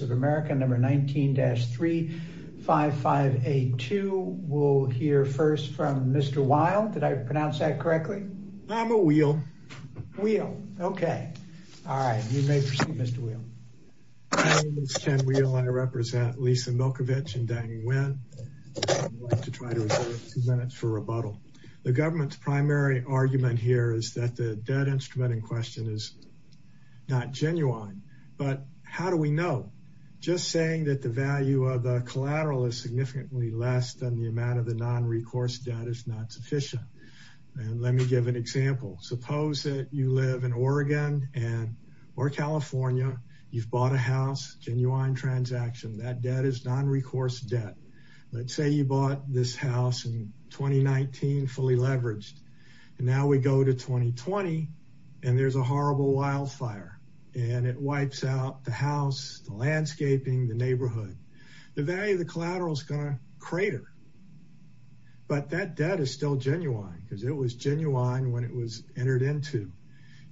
of America 19-35582. We'll hear first from Mr. Weil. Did I pronounce that correctly? I'm a Weill. Weill. Okay. All right. You may proceed, Mr. Weill. My name is Ken Weill. I represent Lisa Milkovich and Deng Nguyen. I'd like to try to reserve two minutes for questions. Two minutes for rebuttal. The government's primary argument here is that the debt instrument in question is not genuine. But how do we know? Just saying that the value of the collateral is significantly less than the amount of the nonrecourse debt is not sufficient. And let me give an example. Suppose that you live in Oregon or California. You've bought a house. Genuine transaction. That debt is nonrecourse debt. Let's say you bought this house in 2019, fully leveraged. And now we go to 2020, and there's a horrible wildfire. And it wipes out the house, the landscaping, the neighborhood. The value of the collateral is going to crater. But that debt is still genuine because it was genuine when it was entered into.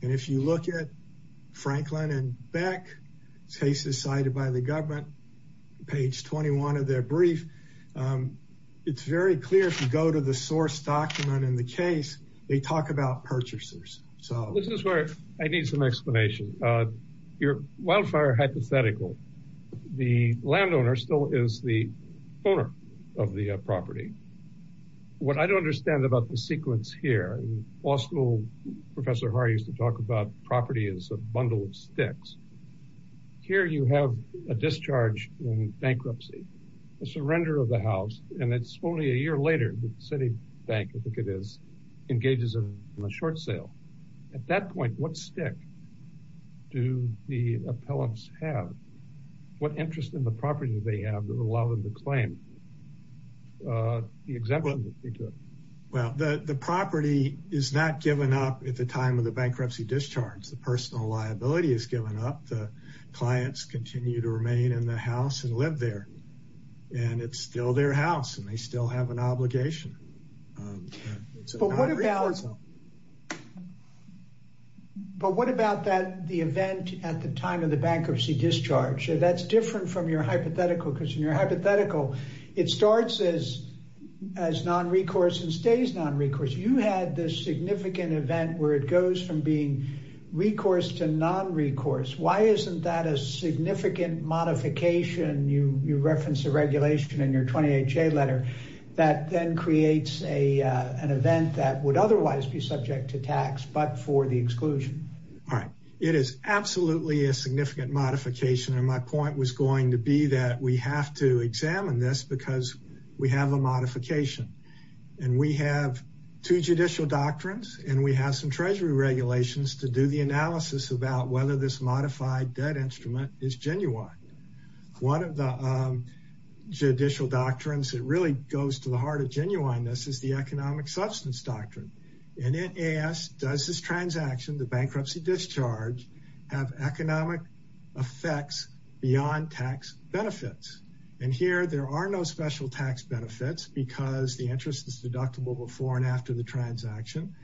And if you look at Franklin and Beck, cases cited by the government, page 21 of their brief, it's very clear if you go to the source document in the case, they talk about purchasers. So this is where I need some explanation. Your wildfire hypothetical, the landowner still is the owner of the property. What I don't understand about the sequence here, also, Professor Hahr used to talk about property as a bundle of sticks. Here you have a discharge in bankruptcy, a surrender of the house, and it's only a year later. The Citibank, I think it is, engages in a short sale. At that point, what stick do the appellants have? What interest in the property do they have that allow them to claim the exemption? Well, the property is not given up at the time of the bankruptcy discharge. The personal liability is given up. The clients continue to remain in the house and live there. And it's still their house and they still have an obligation. But what about the event at the time of the bankruptcy discharge? That's different from your hypothetical, because in your hypothetical, it starts as non-recourse and stays non-recourse. You had this significant event where it goes from being recourse to non-recourse. Why isn't that a significant modification? You reference the regulation in your 20HA letter that then creates an event that would otherwise be subject to tax, but for the exclusion. It is absolutely a significant modification, and my point was going to be that we have to examine this because we have a modification. And we have two judicial doctrines and we have some treasury regulations to do the analysis about whether this modified debt instrument is genuine. One of the judicial doctrines that really goes to the heart of genuineness is the economic substance doctrine. And it asks, does this transaction, the bankruptcy discharge, have economic effects beyond tax benefits? And here there are no special tax benefits because the interest is deductible before and after the transaction.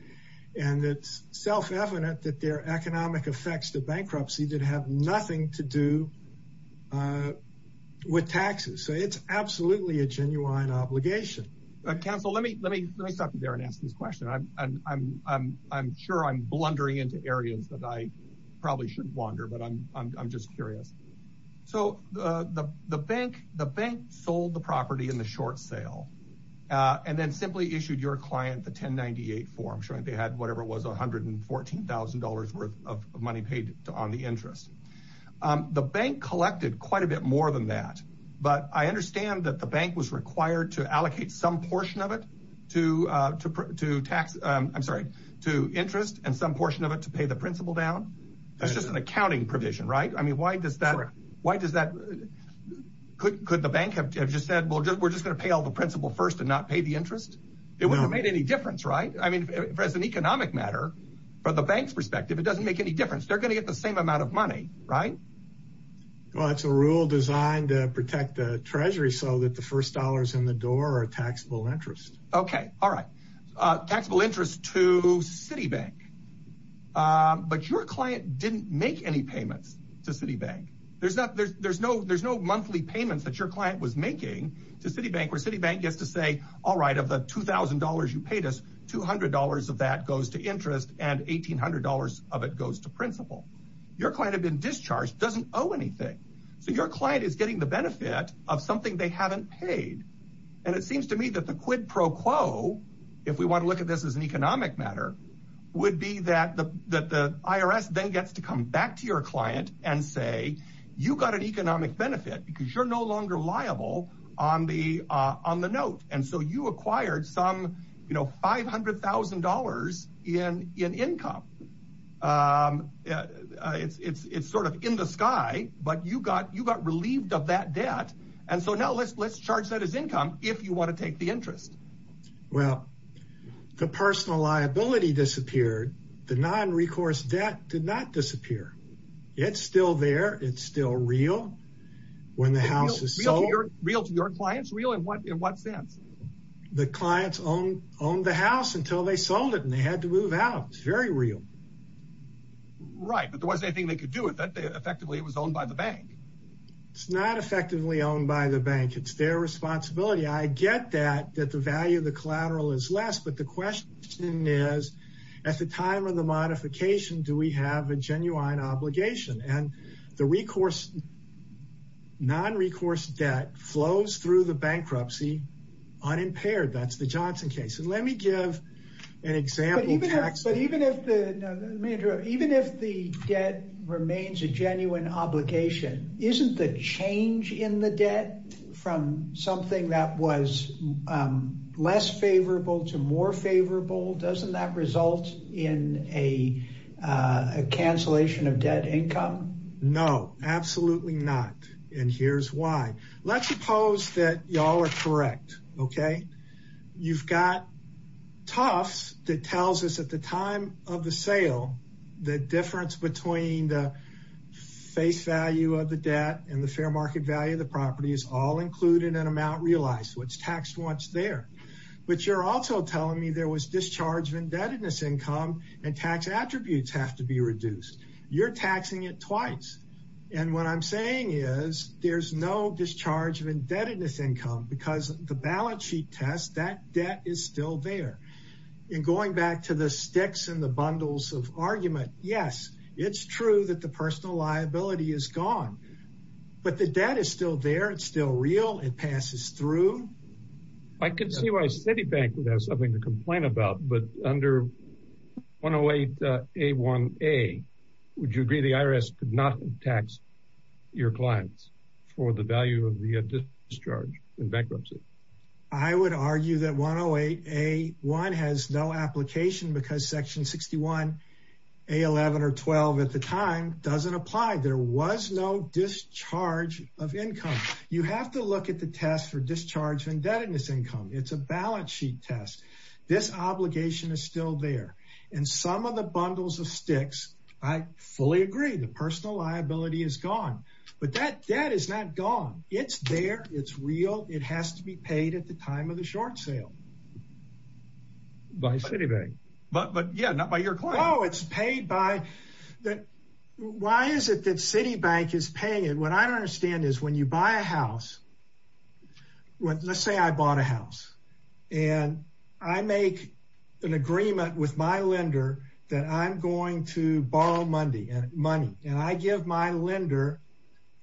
And it's self-evident that there are economic effects to bankruptcy that have nothing to do with taxes. So it's absolutely a genuine obligation. Council, let me stop you there and ask this question. I'm sure I'm blundering into areas that I probably shouldn't wander, but I'm just curious. So the bank sold the property in the short sale and then simply issued your client the 1098 form, showing they had whatever it was, $114,000 worth of money paid on the interest. The bank collected quite a bit more than that. But I understand that the bank was required to allocate some portion of it to interest and some portion of it to pay the principal down. That's just an accounting provision, right? Why does that – could the bank have just said, well, we're just going to pay all the principal first and not pay the interest? It wouldn't have made any difference, right? I mean, as an economic matter, from the bank's perspective, it doesn't make any difference. They're going to get the same amount of money, right? Well, it's a rule designed to protect the Treasury so that the first dollars in the door are taxable interest. Okay. All right. Taxable interest to Citibank. But your client didn't make any payments to Citibank. There's no monthly payments that your client was making to Citibank where Citibank gets to say, all right, of the $2,000 you paid us, $200 of that goes to interest and $1,800 of it goes to principal. Your client had been discharged, doesn't owe anything. So your client is getting the benefit of something they haven't paid. And it seems to me that the quid pro quo, if we want to look at this as an economic matter, would be that the IRS then gets to come back to your client and say, you got an economic benefit because you're no longer liable on the note. And so you acquired some, you know, $500,000 in income. It's sort of in the sky, but you got relieved of that debt. And so now let's charge that as income if you want to take the interest. Well, the personal liability disappeared. The non-recourse debt did not disappear. It's still there. It's still real. Real to your clients? Real in what sense? The clients owned the house until they sold it and they had to move out. It's very real. Right, but there wasn't anything they could do with it. Effectively, it was owned by the bank. It's not effectively owned by the bank. It's their responsibility. I get that, that the value of the collateral is less. But the question is, at the time of the modification, do we have a genuine obligation? And the non-recourse debt flows through the bankruptcy unimpaired. That's the Johnson case. And let me give an example. But even if the debt remains a genuine obligation, isn't the change in the debt from something that was less favorable to more favorable? Doesn't that result in a cancellation of debt income? No, absolutely not. And here's why. Let's suppose that y'all are correct. You've got Tufts that tells us at the time of the sale, the difference between the face value of the debt and the fair market value of the property is all included in an amount realized. What's taxed, what's there. But you're also telling me there was discharge of indebtedness income and tax attributes have to be reduced. You're taxing it twice. And what I'm saying is there's no discharge of indebtedness income because the balance sheet test, that debt is still there. And going back to the sticks and the bundles of argument. Yes, it's true that the personal liability is gone. But the debt is still there. It's still real. It passes through. I could see why Citibank would have something to complain about. But under 108A1A, would you agree the IRS could not tax your clients for the value of the discharge in bankruptcy? I would argue that 108A1 has no application because Section 61A11 or 12 at the time doesn't apply. There was no discharge of income. You have to look at the test for discharge of indebtedness income. It's a balance sheet test. This obligation is still there. And some of the bundles of sticks, I fully agree the personal liability is gone. But that debt is not gone. It's there. It's real. It has to be paid at the time of the short sale. By Citibank. But yeah, not by your client. Why is it that Citibank is paying it? What I don't understand is when you buy a house, let's say I bought a house. And I make an agreement with my lender that I'm going to borrow money. And I give my lender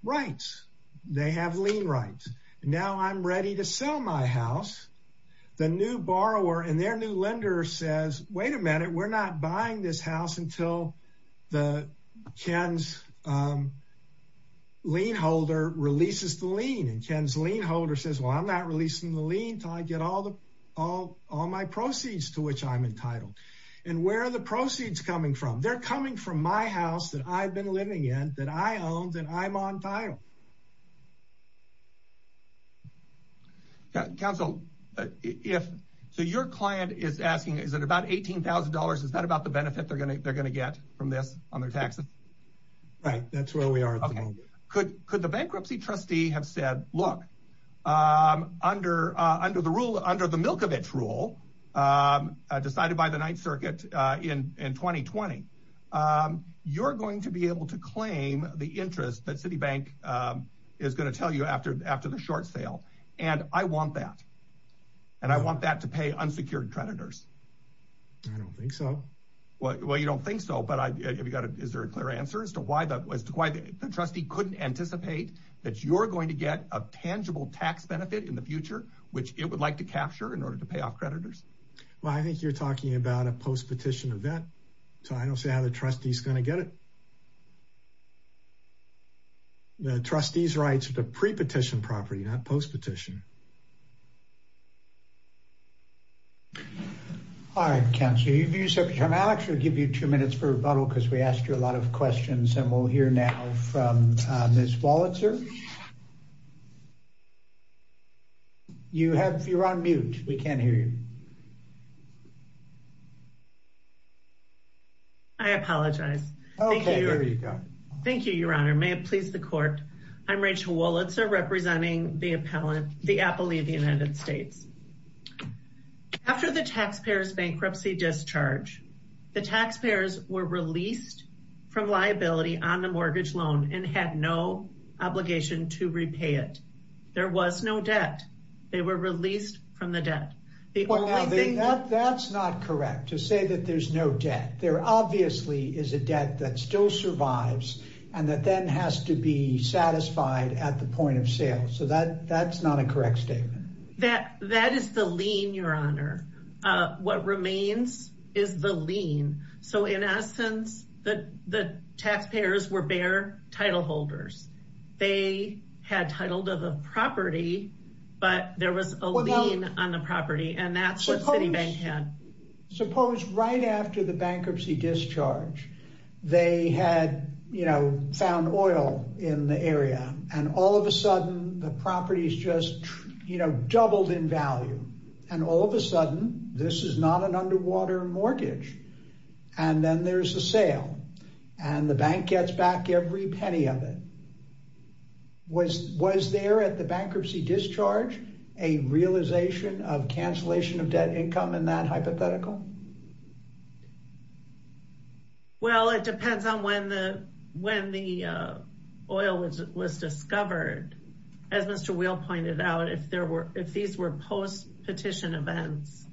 rights. They have lien rights. Now I'm ready to sell my house. The new borrower and their new lender says, wait a minute. We're not buying this house until the Ken's lien holder releases the lien. And Ken's lien holder says, well, I'm not releasing the lien until I get all my proceeds to which I'm entitled. And where are the proceeds coming from? They're coming from my house that I've been living in, that I own, that I'm on title. Counsel, if so, your client is asking, is it about eighteen thousand dollars? Is that about the benefit they're going to they're going to get from this on their taxes? Right. That's where we are. Could could the bankruptcy trustee have said, look, under under the rule, under the Milkovich rule decided by the Ninth Circuit in 2020, you're going to be able to claim the interest that Citibank is going to tell you after after the short sale. And I want that. And I want that to pay unsecured creditors. I don't think so. Well, you don't think so. But is there a clear answer as to why that was to why the trustee couldn't anticipate that you're going to get a tangible tax benefit in the future, which it would like to capture in order to pay off creditors? Well, I think you're talking about a post-petition event, so I don't see how the trustee is going to get it. The trustee's rights to pre-petition property, not post-petition. All right, counselor, you've used up your time. Alex, we'll give you two minutes for rebuttal because we asked you a lot of questions and we'll hear now from Ms. Wolitzer. You have you're on mute. We can't hear you. I apologize. OK, there you go. Thank you, Your Honor. May it please the court. I'm Rachel Wolitzer representing the appellant, the appellee of the United States. After the taxpayers bankruptcy discharge, the taxpayers were released from liability on the mortgage loan and had no obligation to repay it. There was no debt. They were released from the debt. That's not correct to say that there's no debt. There obviously is a debt that still survives and that then has to be satisfied at the point of sale. So that that's not a correct statement. That that is the lien, Your Honor. What remains is the lien. So in essence, that the taxpayers were bare title holders. They had titled of a property, but there was a lien on the property and that's what Citibank had. Suppose right after the bankruptcy discharge, they had, you know, found oil in the area. And all of a sudden, the property is just, you know, doubled in value. And all of a sudden, this is not an underwater mortgage. And then there's a sale and the bank gets back every penny of it. Was was there at the bankruptcy discharge a realization of cancellation of debt income in that hypothetical? Well, it depends on when the when the oil was discovered. As Mr. Weill pointed out, if there were if these were post petition events,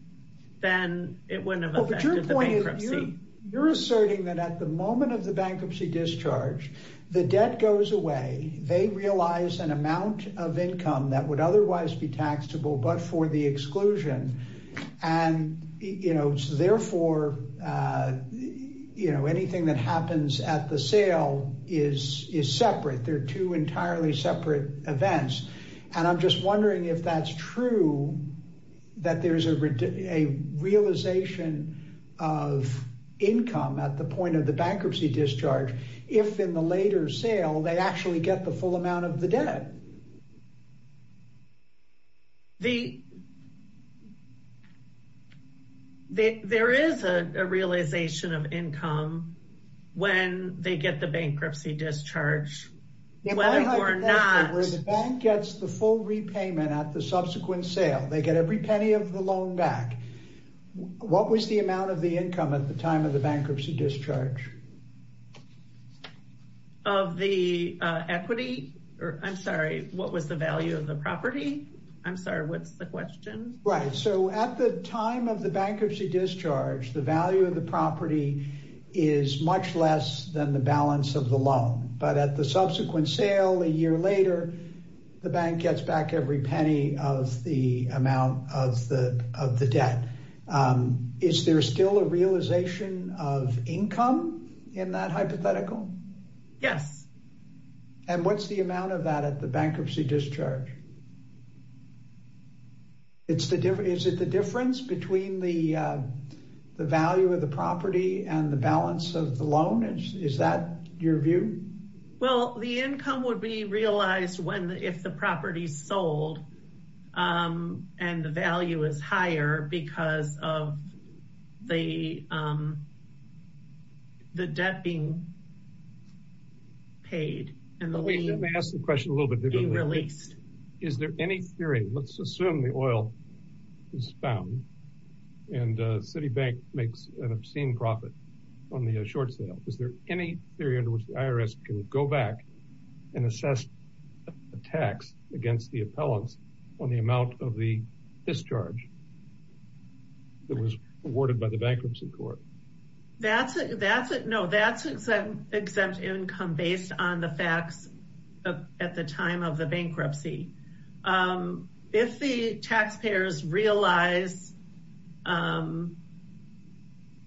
then it wouldn't have affected the bankruptcy. You're asserting that at the moment of the bankruptcy discharge, the debt goes away. They realize an amount of income that would otherwise be taxable, but for the exclusion. And, you know, therefore, you know, anything that happens at the sale is is separate. They're two entirely separate events. And I'm just wondering if that's true, that there is a realization of income at the point of the bankruptcy discharge. If in the later sale, they actually get the full amount of the debt. The. There is a realization of income when they get the bankruptcy discharge, whether or not the bank gets the full repayment at the subsequent sale, they get every penny of the loan back. What was the amount of the income at the time of the bankruptcy discharge? Of the equity or I'm sorry, what was the value of the property? I'm sorry, what's the question? Right. So at the time of the bankruptcy discharge, the value of the property is much less than the balance of the loan. But at the subsequent sale a year later, the bank gets back every penny of the amount of the of the debt. Is there still a realization of income in that hypothetical? Yes. And what's the amount of that at the bankruptcy discharge? It's the difference. Is it the difference between the the value of the property and the balance of the loan? Is that your view? Well, the income would be realized when if the property sold and the value is higher because of the. The debt being. Paid and they ask the question a little bit. Released. Is there any theory? Let's assume the oil is found and Citibank makes an obscene profit on the short sale. Is there any theory in which the IRS can go back and assess the tax against the appellants on the amount of the discharge? It was awarded by the bankruptcy court. That's it. That's it. No, that's an exempt income based on the facts at the time of the bankruptcy. If the taxpayers realize.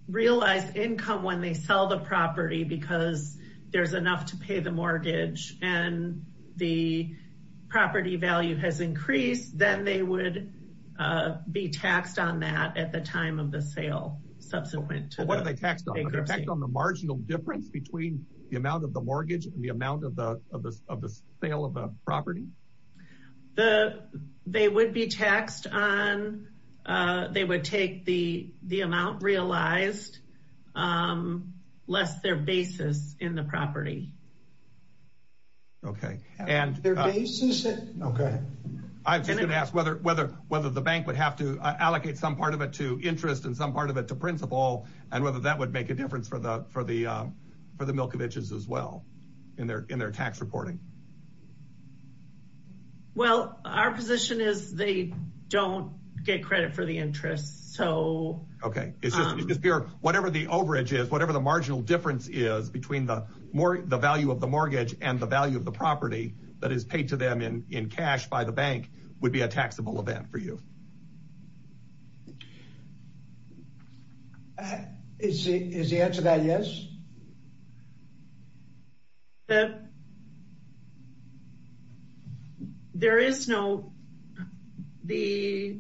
Realized income when they sell the property because there's enough to pay the mortgage and the property value has increased. Then they would be taxed on that at the time of the sale. Subsequent to what they taxed on the marginal difference between the amount of the mortgage and the amount of the of the sale of a property. The they would be taxed on. They would take the the amount realized. Less their basis in the property. OK, and their basis. OK, I'm just going to ask whether whether whether the bank would have to allocate some part of it to interest in some part of it to principle and whether that would make a difference for the for the for the Milkovich is as well in their in their tax reporting. Well, our position is they don't get credit for the interest, so OK, it's just whatever the overage is, whatever the marginal difference is between the more the value of the mortgage and the value of the property that is paid to them in in cash by the bank would be a taxable event for you. Is the answer that yes. The. There is no. The.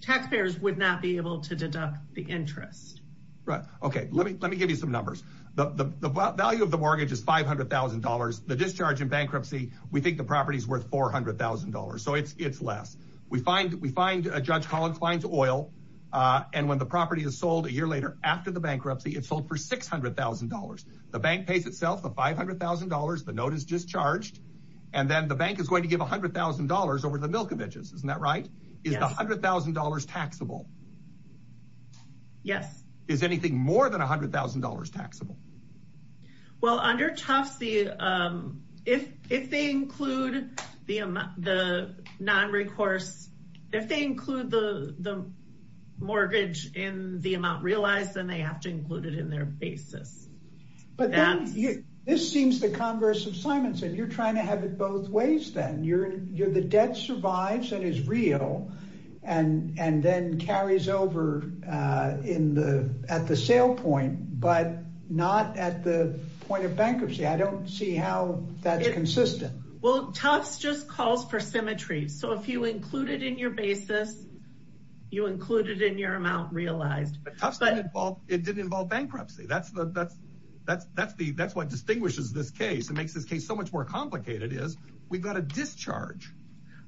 Taxpayers would not be able to deduct the interest, right? OK, let me let me give you some numbers. The value of the mortgage is $500,000. The discharge in bankruptcy. We think the property is worth $400,000, so it's it's less we find. We find a judge Collins finds oil and when the property is sold a year later after the bankruptcy, it's sold for $600,000. The bank pays itself the $500,000. The note is discharged and then the bank is going to give $100,000 over the Milkovich is isn't that right? Is the $100,000 taxable? Yes, is anything more than $100,000 taxable? Well, under Tufts, the if if they include the the non recourse, if they include the the mortgage in the amount realized, then they have to include it in their basis. This seems the Congress of Simonson. You're trying to have it both ways. Then you're you're the debt survives and is real and and then carries over in the at the sale point, but not at the point of bankruptcy. I don't see how that's consistent. Well, Tufts just calls for symmetry. So if you included in your basis, you included in your amount realized, but it didn't involve bankruptcy. That's the that's that's that's the that's what distinguishes this case and makes this case so much more complicated is we've got a discharge.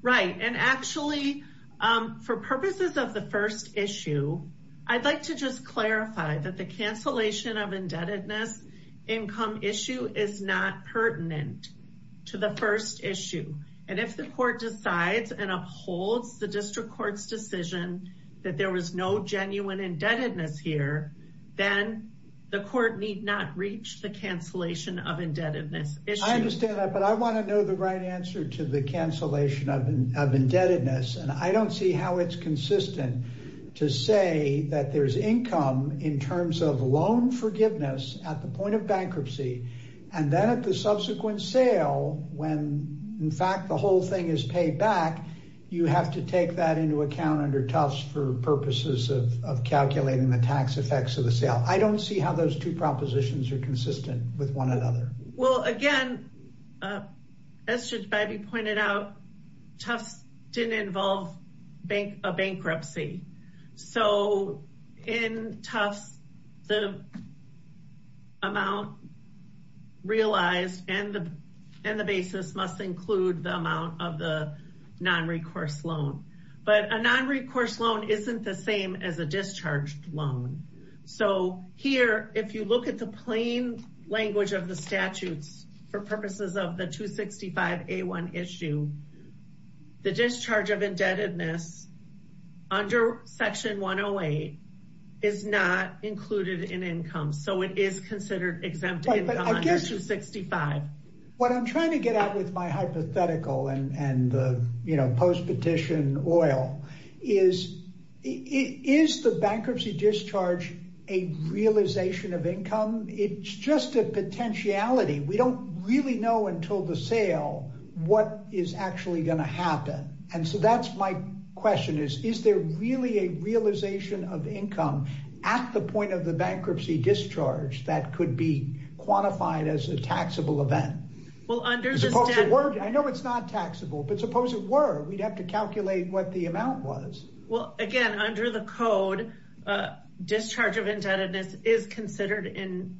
Right and actually for purposes of the first issue. I'd like to just clarify that the cancellation of indebtedness income issue is not pertinent to the first issue. And if the court decides and upholds the district courts decision that there was no genuine indebtedness here, then the court need not reach the cancellation of indebtedness. I understand that but I want to know the right answer to the cancellation of indebtedness and I don't see how it's consistent to say that there's income in terms of loan forgiveness at the point of bankruptcy and then at the subsequent sale when in fact, the whole thing is paid back. You have to take that into account under Tufts for purposes of calculating the tax effects of the sale. I don't see how those two propositions are consistent with one another. Well, again, as Judge Bybee pointed out, Tufts didn't involve a bankruptcy. So in Tufts, the amount realized and the basis must include the amount of the non-recourse loan. But a non-recourse loan isn't the same as a discharged loan. So here, if you look at the plain language of the statutes for purposes of the 265A1 issue, the discharge of indebtedness under section 108 is not included in income. So it is considered exempt under 265. What I'm trying to get at with my hypothetical and the post-petition oil is, is the bankruptcy discharge a realization of income? It's just a potentiality. We don't really know until the sale what is actually going to happen. And so that's my question is, is there really a realization of income at the point of the bankruptcy discharge that could be quantified as a taxable event? I know it's not taxable, but suppose it were, we'd have to calculate what the amount was. Well, again, under the code, discharge of indebtedness is considered in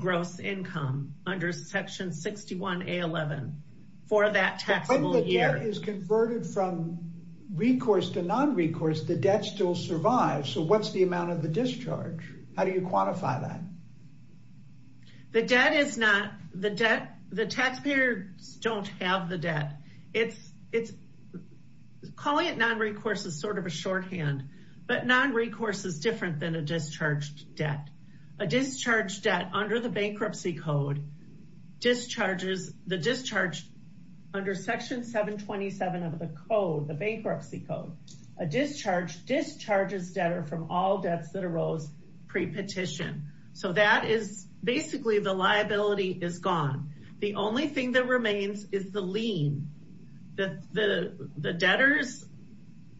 gross income under section 61A11 for that taxable year. But when the debt is converted from recourse to non-recourse, the debt still survives. So what's the amount of the discharge? How do you quantify that? The debt is not, the debt, the taxpayers don't have the debt. It's, it's calling it non-recourse is sort of a shorthand, but non-recourse is different than a discharged debt. A discharged debt under the bankruptcy code discharges, the discharge under section 727 of the code, the bankruptcy code, a discharge discharges debtor from all debts that arose pre-petition. So that is basically the liability is gone. The only thing that remains is the lien, the debtor's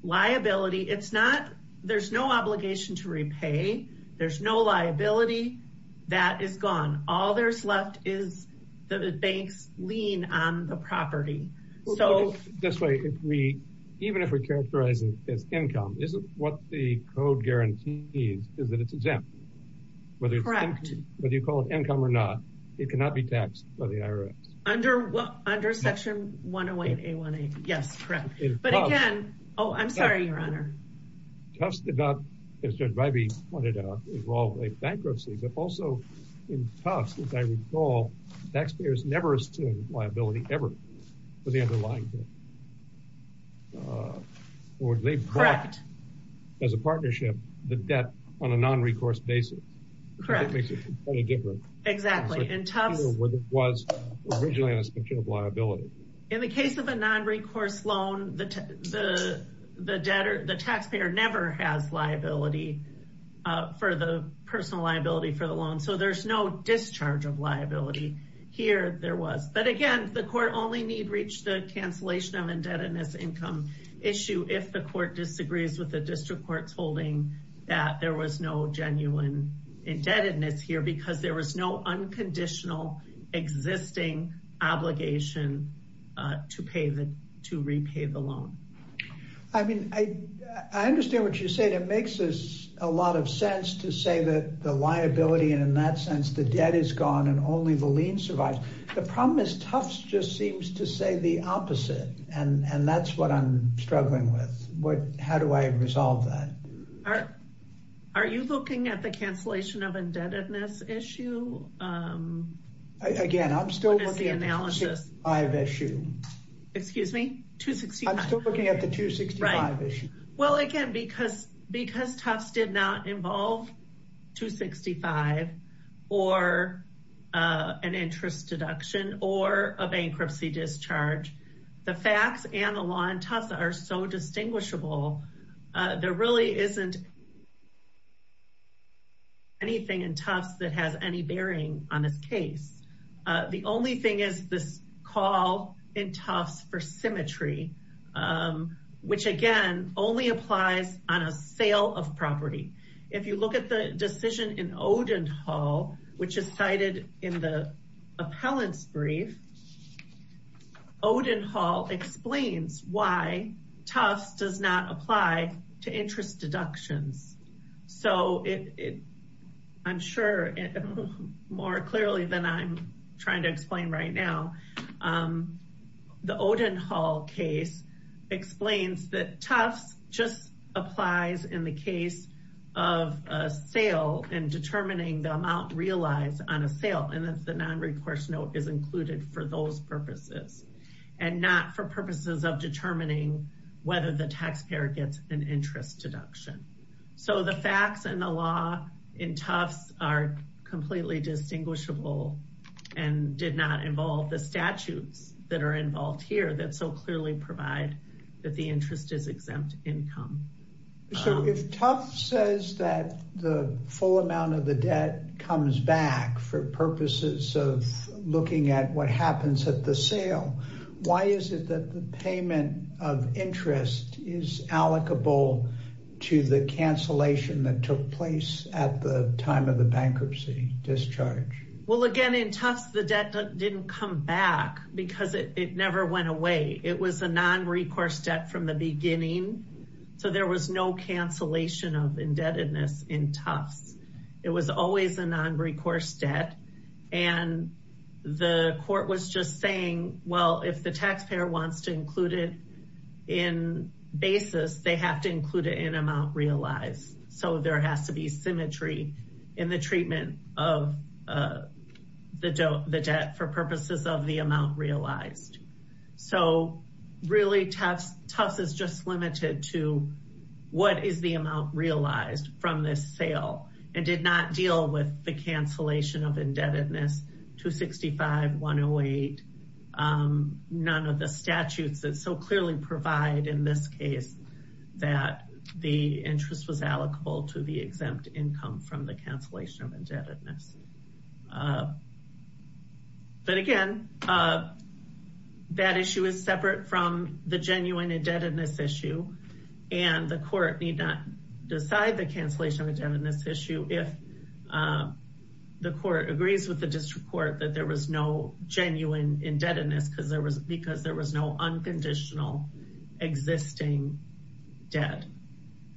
liability. It's not, there's no obligation to repay. There's no liability that is gone. All there's left is the bank's lien on the property. This way, if we, even if we characterize it as income, isn't what the code guarantees is that it's exempt. Whether you call it income or not, it cannot be taxed by the IRS. Under what, under section 108A1A. Yes, correct. But again, oh, I'm sorry, your honor. Tufts did not, as Judge Ribey pointed out, involve a bankruptcy, but also in Tufts, as I recall, taxpayers never assumed liability ever for the underlying debt. Correct. Or they bought, as a partnership, the debt on a non-recourse basis. Correct. That makes it completely different. Exactly. In Tufts. In the case of a non-recourse loan, the debtor, the taxpayer never has liability for the personal liability for the loan. So there's no discharge of liability here. But again, the court only need reach the cancellation of indebtedness income issue if the court disagrees with the district court's holding that there was no genuine indebtedness here because there was no unconditional existing obligation to pay the, to repay the loan. I mean, I understand what you said. It makes a lot of sense to say that the liability and in that sense, the debt is gone and only the lien survives. The problem is Tufts just seems to say the opposite. And that's what I'm struggling with. What, how do I resolve that? Are you looking at the cancellation of indebtedness issue? Again, I'm still looking at the 265 issue. Excuse me? 265. I'm still looking at the 265 issue. Well, again, because Tufts did not involve 265 or an interest deduction or a bankruptcy discharge, the facts and the law in Tufts are so distinguishable. There really isn't anything in Tufts that has any bearing on this case. The only thing is this call in Tufts for symmetry, which again only applies on a sale of property. If you look at the decision in Odenhall, which is cited in the appellant's brief, Odenhall explains why Tufts does not apply to interest deductions. So I'm sure more clearly than I'm trying to explain right now, the Odenhall case explains that Tufts just applies in the case of a sale and determining the amount realized on a sale and that the non-recourse note is included for those purposes and not for purposes of determining whether the taxpayer gets an interest deduction. So the facts and the law in Tufts are completely distinguishable and did not involve the statutes that are involved here that so clearly provide that the interest is exempt income. So if Tufts says that the full amount of the debt comes back for purposes of looking at what happens at the sale, why is it that the payment of interest is allocable to the cancellation that took place at the time of the bankruptcy discharge? Well, again, in Tufts, the debt didn't come back because it never went away. It was a non-recourse debt from the beginning. So there was no cancellation of indebtedness in Tufts. It was always a non-recourse debt. And the court was just saying, well, if the taxpayer wants to include it in basis, they have to include it in amount realized. So there has to be symmetry in the treatment of the debt for purposes of the amount realized. So really Tufts is just limited to what is the amount realized from this sale and did not deal with the cancellation of indebtedness 265-108. None of the statutes that so clearly provide in this case that the interest was allocable to the exempt income from the cancellation of indebtedness. But again, that issue is separate from the genuine indebtedness issue. And the court need not decide the cancellation of indebtedness issue if the court agrees with the district court that there was no genuine indebtedness because there was no unconditional existing debt.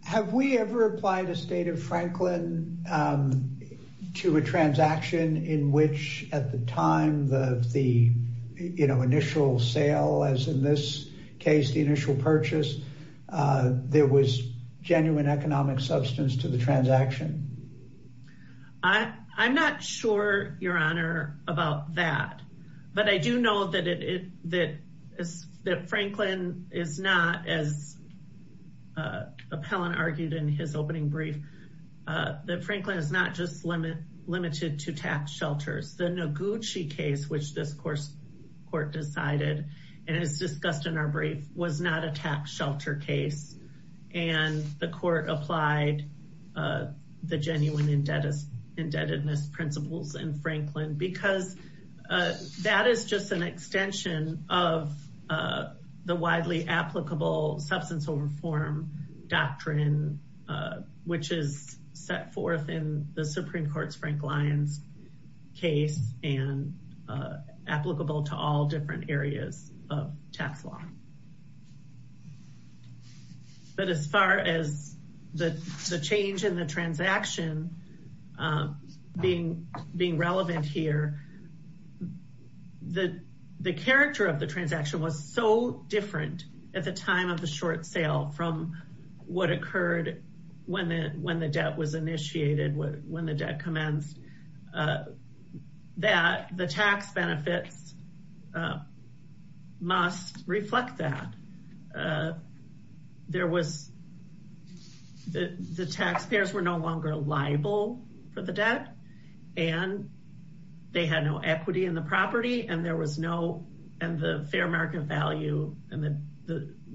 Have we ever applied a state of Franklin to a transaction in which at the time of the initial sale, as in this case, the initial purchase, there was genuine economic substance to the transaction? I'm not sure, Your Honor, about that, but I do know that Franklin is not, as Appellant argued in his opening brief, that Franklin is not just limited to tax shelters. The Noguchi case, which this court decided, and it's discussed in our brief, was not a tax shelter case. And the court applied the genuine indebtedness principles in Franklin because that is just an extension of the widely applicable substance over form doctrine, which is set forth in the Supreme Court's Frank Lyons case. And applicable to all different areas of tax law. But as far as the change in the transaction being relevant here, the character of the transaction was so different at the time of the short sale from what occurred when the debt was initiated, when the debt commenced, that the tax benefits must reflect that. There was, the taxpayers were no longer liable for the debt, and they had no equity in the property, and there was no, and the fair market value, and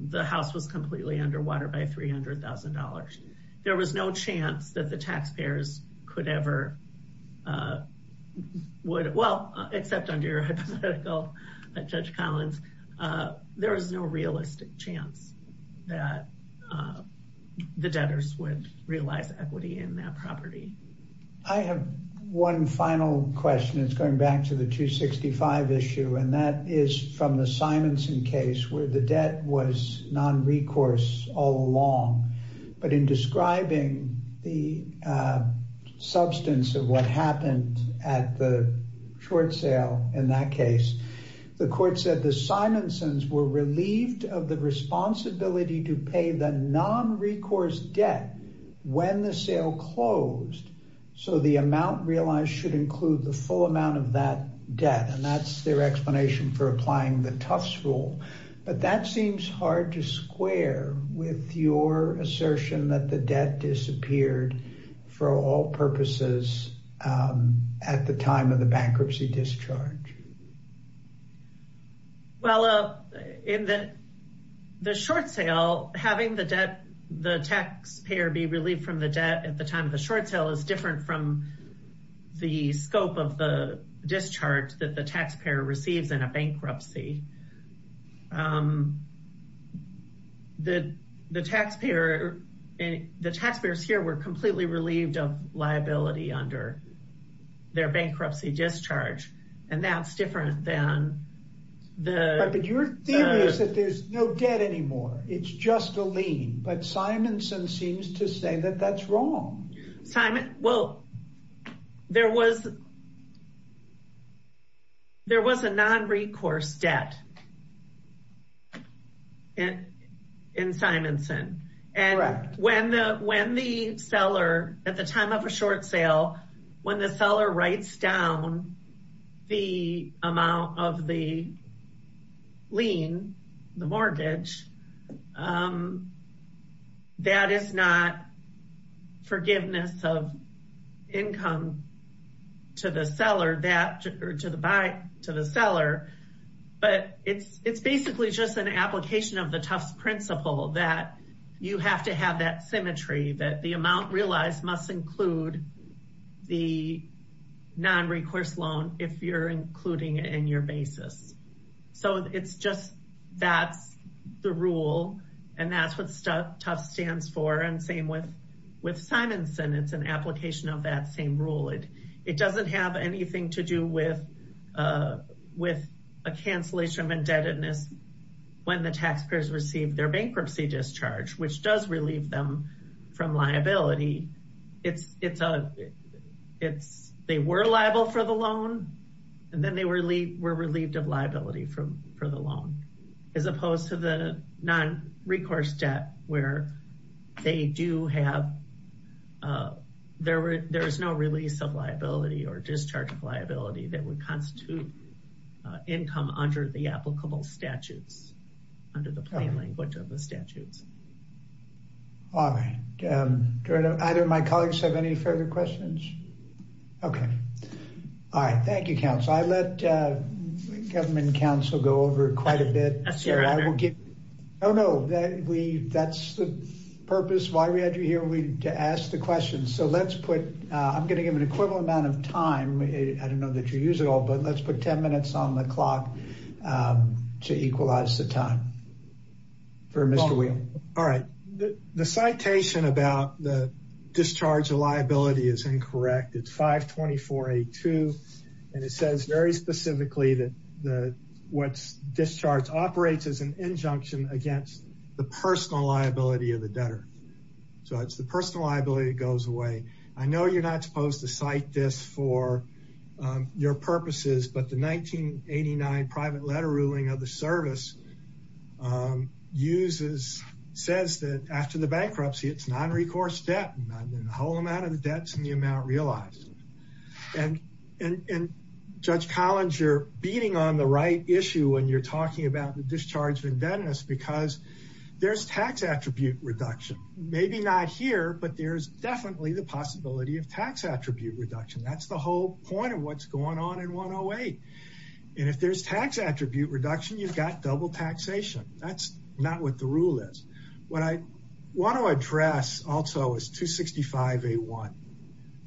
the house was completely underwater by $300,000. There was no chance that the taxpayers could ever, would, well, except under hypothetical Judge Collins, there was no realistic chance that the debtors would realize equity in that property. I have one final question. It's going back to the 265 issue, and that is from the Simonson case where the debt was non-recourse all along. But in describing the substance of what happened at the short sale in that case, the court said the Simonsons were relieved of the responsibility to pay the non-recourse debt when the sale closed. So the amount realized should include the full amount of that debt, and that's their explanation for applying the Tufts rule. But that seems hard to square with your assertion that the debt disappeared for all purposes at the time of the bankruptcy discharge. Well, in the short sale, having the debt, the taxpayer be relieved from the debt at the time of the short sale is different from the scope of the discharge that the taxpayer receives in a bankruptcy. The taxpayer, the taxpayers here were completely relieved of liability under their bankruptcy discharge, and that's different than the... But your theory is that there's no debt anymore. It's just a lien. But Simonson seems to say that that's wrong. Well, there was a non-recourse debt in Simonson. And when the seller, at the time of a short sale, when the seller writes down the amount of the lien, the mortgage, that is not forgiveness of income to the seller. But it's basically just an application of the Tufts principle that you have to have that symmetry, that the amount realized must include the non-recourse loan if you're including it in your basis. So it's just that's the rule, and that's what Tufts stands for, and same with Simonson. It's an application of that same rule. It doesn't have anything to do with a cancellation of indebtedness when the taxpayers receive their bankruptcy discharge, which does relieve them from liability. They were liable for the loan, and then they were relieved of liability for the loan, as opposed to the non-recourse debt where there is no release of liability or discharge of liability that would constitute income under the applicable statutes, under the plain language of the statutes. All right. Do either of my colleagues have any further questions? Okay. All right. Thank you, counsel. I let government counsel go over quite a bit. I will get. Oh, no, we that's the purpose why we had you here. We asked the question. So let's put I'm going to give an equivalent amount of time. I don't know that you use it all, but let's put 10 minutes on the clock to equalize the time. For Mr. All right. The citation about the discharge of liability is incorrect. It's 524 a two. And it says very specifically that the what's discharged operates as an injunction against the personal liability of the debtor. So it's the personal liability that goes away. I know you're not supposed to cite this for your purposes, but the 1989 private letter ruling of the service uses says that after the bankruptcy, it's non recourse debt. The whole amount of the debts in the amount realized. And and Judge Collins, you're beating on the right issue when you're talking about the discharge of indebtedness, because there's tax attribute reduction. Maybe not here, but there's definitely the possibility of tax attribute reduction. That's the whole point of what's going on in 108. And if there's tax attribute reduction, you've got double taxation. That's not what the rule is. What I want to address also is 265 a one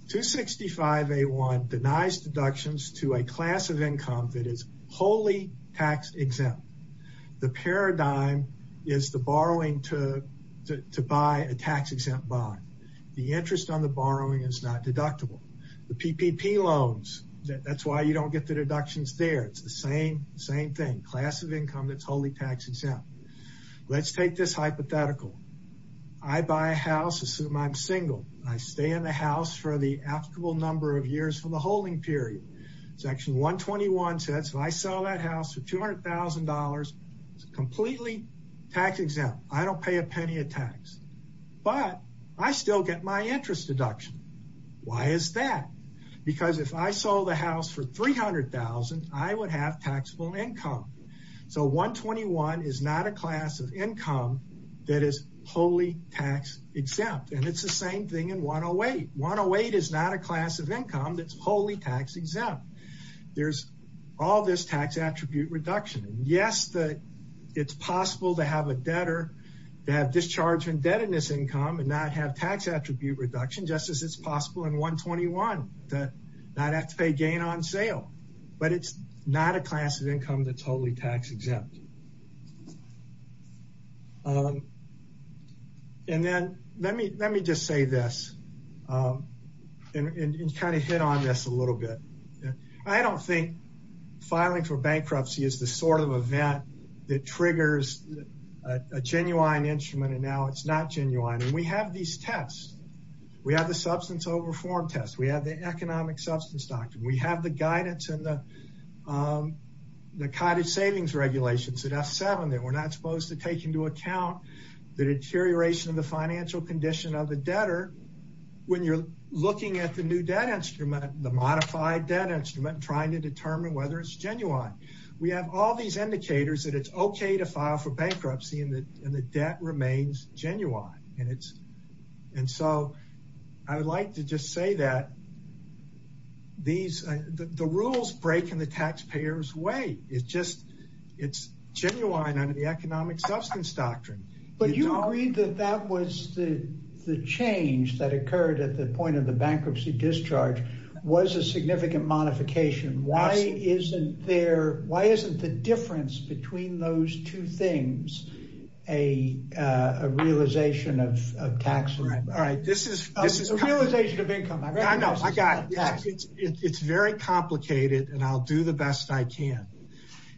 to 65. A one denies deductions to a class of income that is wholly tax exempt. The paradigm is the borrowing to buy a tax exempt bond. The interest on the borrowing is not deductible. The PPP loans. That's why you don't get the deductions there. It's the same same thing. Class of income that's wholly tax exempt. Let's take this hypothetical. I buy a house. Assume I'm single. I stay in the house for the applicable number of years from the holding period. Section 121 says if I sell that house for $200,000, it's completely tax exempt. I don't pay a penny of tax, but I still get my interest deduction. Why is that? Because if I sold the house for $300,000, I would have taxable income. So 121 is not a class of income that is wholly tax exempt. And it's the same thing in 108. 108 is not a class of income that's wholly tax exempt. There's all this tax attribute reduction. Yes, it's possible to have a debtor that discharge indebtedness income and not have tax attribute reduction, just as it's possible in 121 to not have to pay gain on sale. But it's not a class of income that's wholly tax exempt. And then let me just say this and kind of hit on this a little bit. I don't think filing for bankruptcy is the sort of event that triggers a genuine instrument. And now it's not genuine. And we have these tests. We have the substance over form test. We have the economic substance doctrine. We have the guidance and the cottage savings regulations at F7 that we're not supposed to take into account the deterioration of the financial condition of the debtor. When you're looking at the new debt instrument, the modified debt instrument, trying to determine whether it's genuine. We have all these indicators that it's okay to file for bankruptcy and the debt remains genuine. And so I would like to just say that. The rules break in the taxpayers way. It's just it's genuine under the economic substance doctrine. But you agreed that that was the change that occurred at the point of the bankruptcy discharge was a significant modification. Why isn't there? Why isn't the difference between those two things a realization of tax? All right. All right. This is this is a realization of income. I know I got it. It's very complicated. And I'll do the best I can.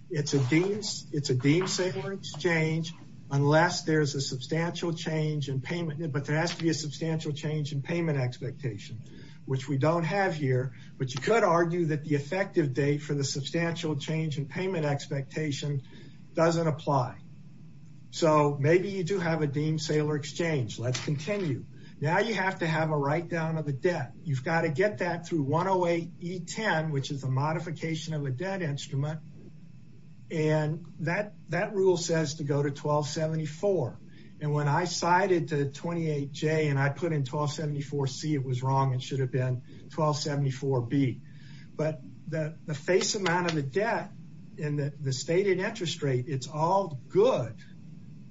It's a it's a it's a change unless there's a substantial change in payment. But there has to be a substantial change in payment expectation, which we don't have here. But you could argue that the effective day for the substantial change in payment expectation doesn't apply. So maybe you do have a deem sailor exchange. Let's continue. Now you have to have a write down of the debt. You've got to get that through one away. E10, which is a modification of a debt instrument. And that that rule says to go to 1274. And when I cited to 28 J and I put in 1274 C, it was wrong. It should have been 1274 B. But the face amount of the debt in the stated interest rate, it's all good.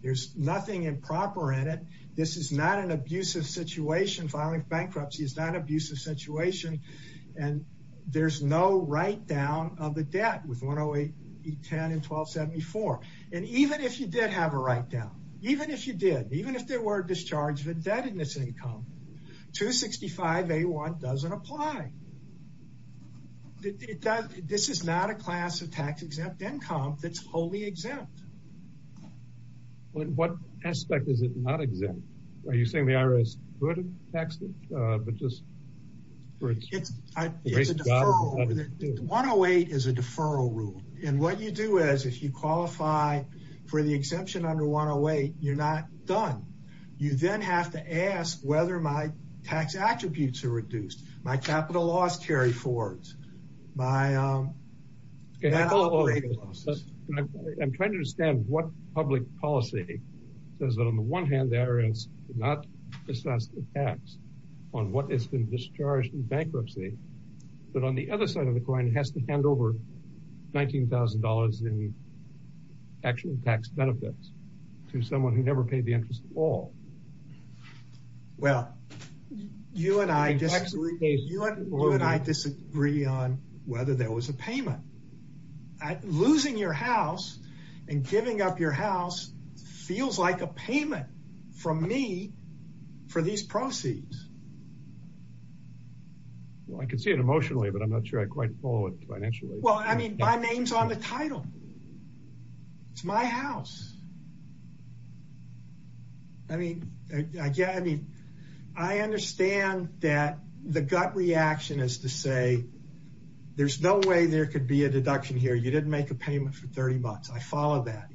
There's nothing improper in it. This is not an abusive situation. Filing bankruptcy is not abusive situation. And there's no write down of the debt with one away. E10 and 1274. And even if you did have a write down, even if you did, even if there were a discharge of indebtedness income to 65, they want doesn't apply. It does. This is not a class of tax exempt income that's wholly exempt. But what aspect is it not exempt? Are you saying the IRS could have taxed it? But just for it. It's a deferral. 108 is a deferral rule. And what you do is if you qualify for the exemption under 108, you're not done. You then have to ask whether my tax attributes are reduced. My capital loss carry forwards. I'm trying to understand what public policy says that on the one hand, there is not assessed tax on what has been discharged in bankruptcy. But on the other side of the coin, it has to hand over $19,000 in actual tax benefits to someone who never paid the interest at all. Well, you and I disagree on whether there was a payment. Losing your house and giving up your house feels like a payment from me for these proceeds. Well, I can see it emotionally, but I'm not sure I quite follow it financially. Well, I mean, my name's on the title. It's my house. I mean, I mean, I understand that the gut reaction is to say there's no way there could be a deduction here. You didn't make a payment for 30 bucks. I follow that.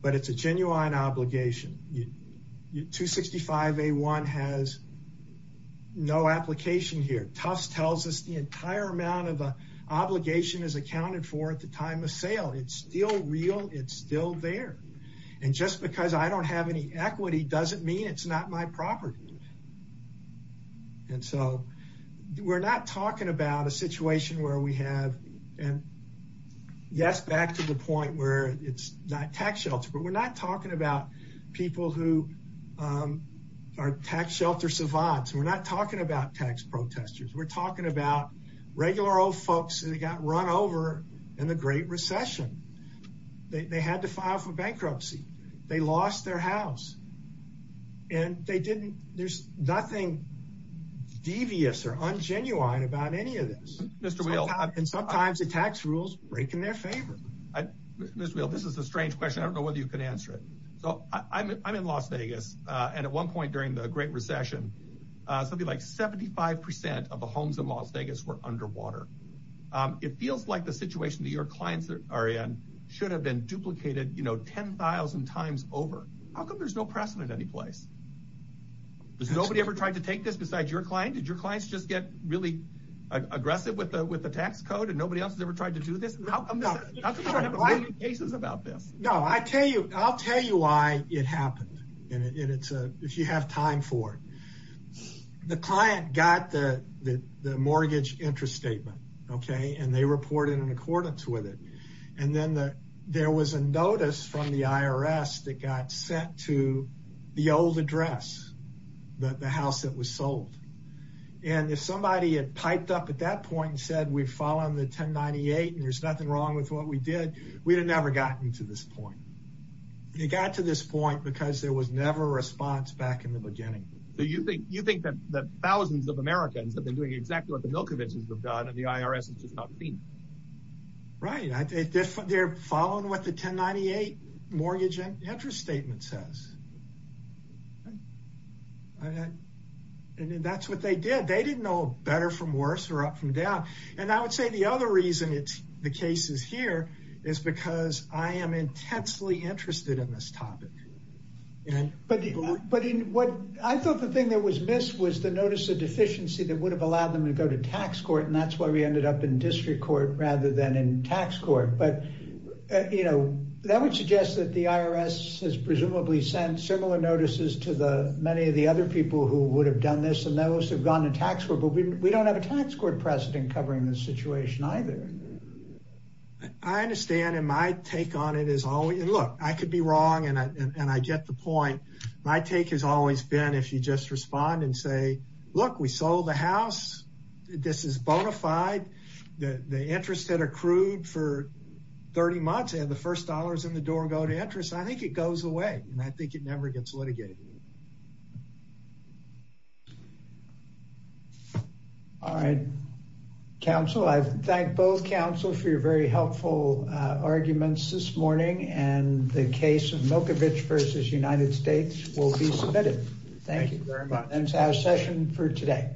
But it's a genuine obligation. 265A1 has no application here. Tufts tells us the entire amount of obligation is accounted for at the time of sale. It's still real. It's still there. And just because I don't have any equity doesn't mean it's not my property. And so we're not talking about a situation where we have. And yes, back to the point where it's not tax shelter, but we're not talking about people who are tax shelter savants. We're not talking about tax protesters. We're talking about regular old folks that got run over in the Great Recession. They had to file for bankruptcy. They lost their house. And they didn't. There's nothing devious or ungenuine about any of this. And sometimes the tax rules break in their favor. This is a strange question. I don't know whether you can answer it. So I'm in Las Vegas. And at one point during the Great Recession, something like 75 percent of the homes in Las Vegas were underwater. It feels like the situation that your clients are in should have been duplicated 10,000 times over. How come there's no precedent anyplace? Has nobody ever tried to take this besides your client? Did your clients just get really aggressive with the tax code and nobody else has ever tried to do this? No, I'll tell you why it happened, if you have time for it. The client got the mortgage interest statement. And they reported in accordance with it. And then there was a notice from the IRS that got sent to the old address, the house that was sold. And if somebody had piped up at that point and said, we've followed the 1098 and there's nothing wrong with what we did, we'd have never gotten to this point. They got to this point because there was never a response back in the beginning. So you think that thousands of Americans have been doing exactly what the Milkovichs have done and the IRS has just not seen it? Right, they're following what the 1098 mortgage interest statement says. And that's what they did. They didn't know better from worse or up from down. And I would say the other reason the case is here is because I am intensely interested in this topic. But what I thought the thing that was missed was the notice of deficiency that would have allowed them to go to tax court. And that's why we ended up in district court rather than in tax court. But, you know, that would suggest that the IRS has presumably sent similar notices to the many of the other people who would have done this. And those have gone to tax. But we don't have a tax court precedent covering the situation either. I understand. And my take on it is, oh, look, I could be wrong. And I get the point. My take has always been if you just respond and say, look, we sold the house. This is bona fide. The interest that accrued for 30 months and the first dollars in the door go to interest. I think it goes away and I think it never gets litigated. All right. Counsel, I thank both counsel for your very helpful arguments this morning and the case of Milkovich versus United States will be submitted. Thank you very much. And our session for today.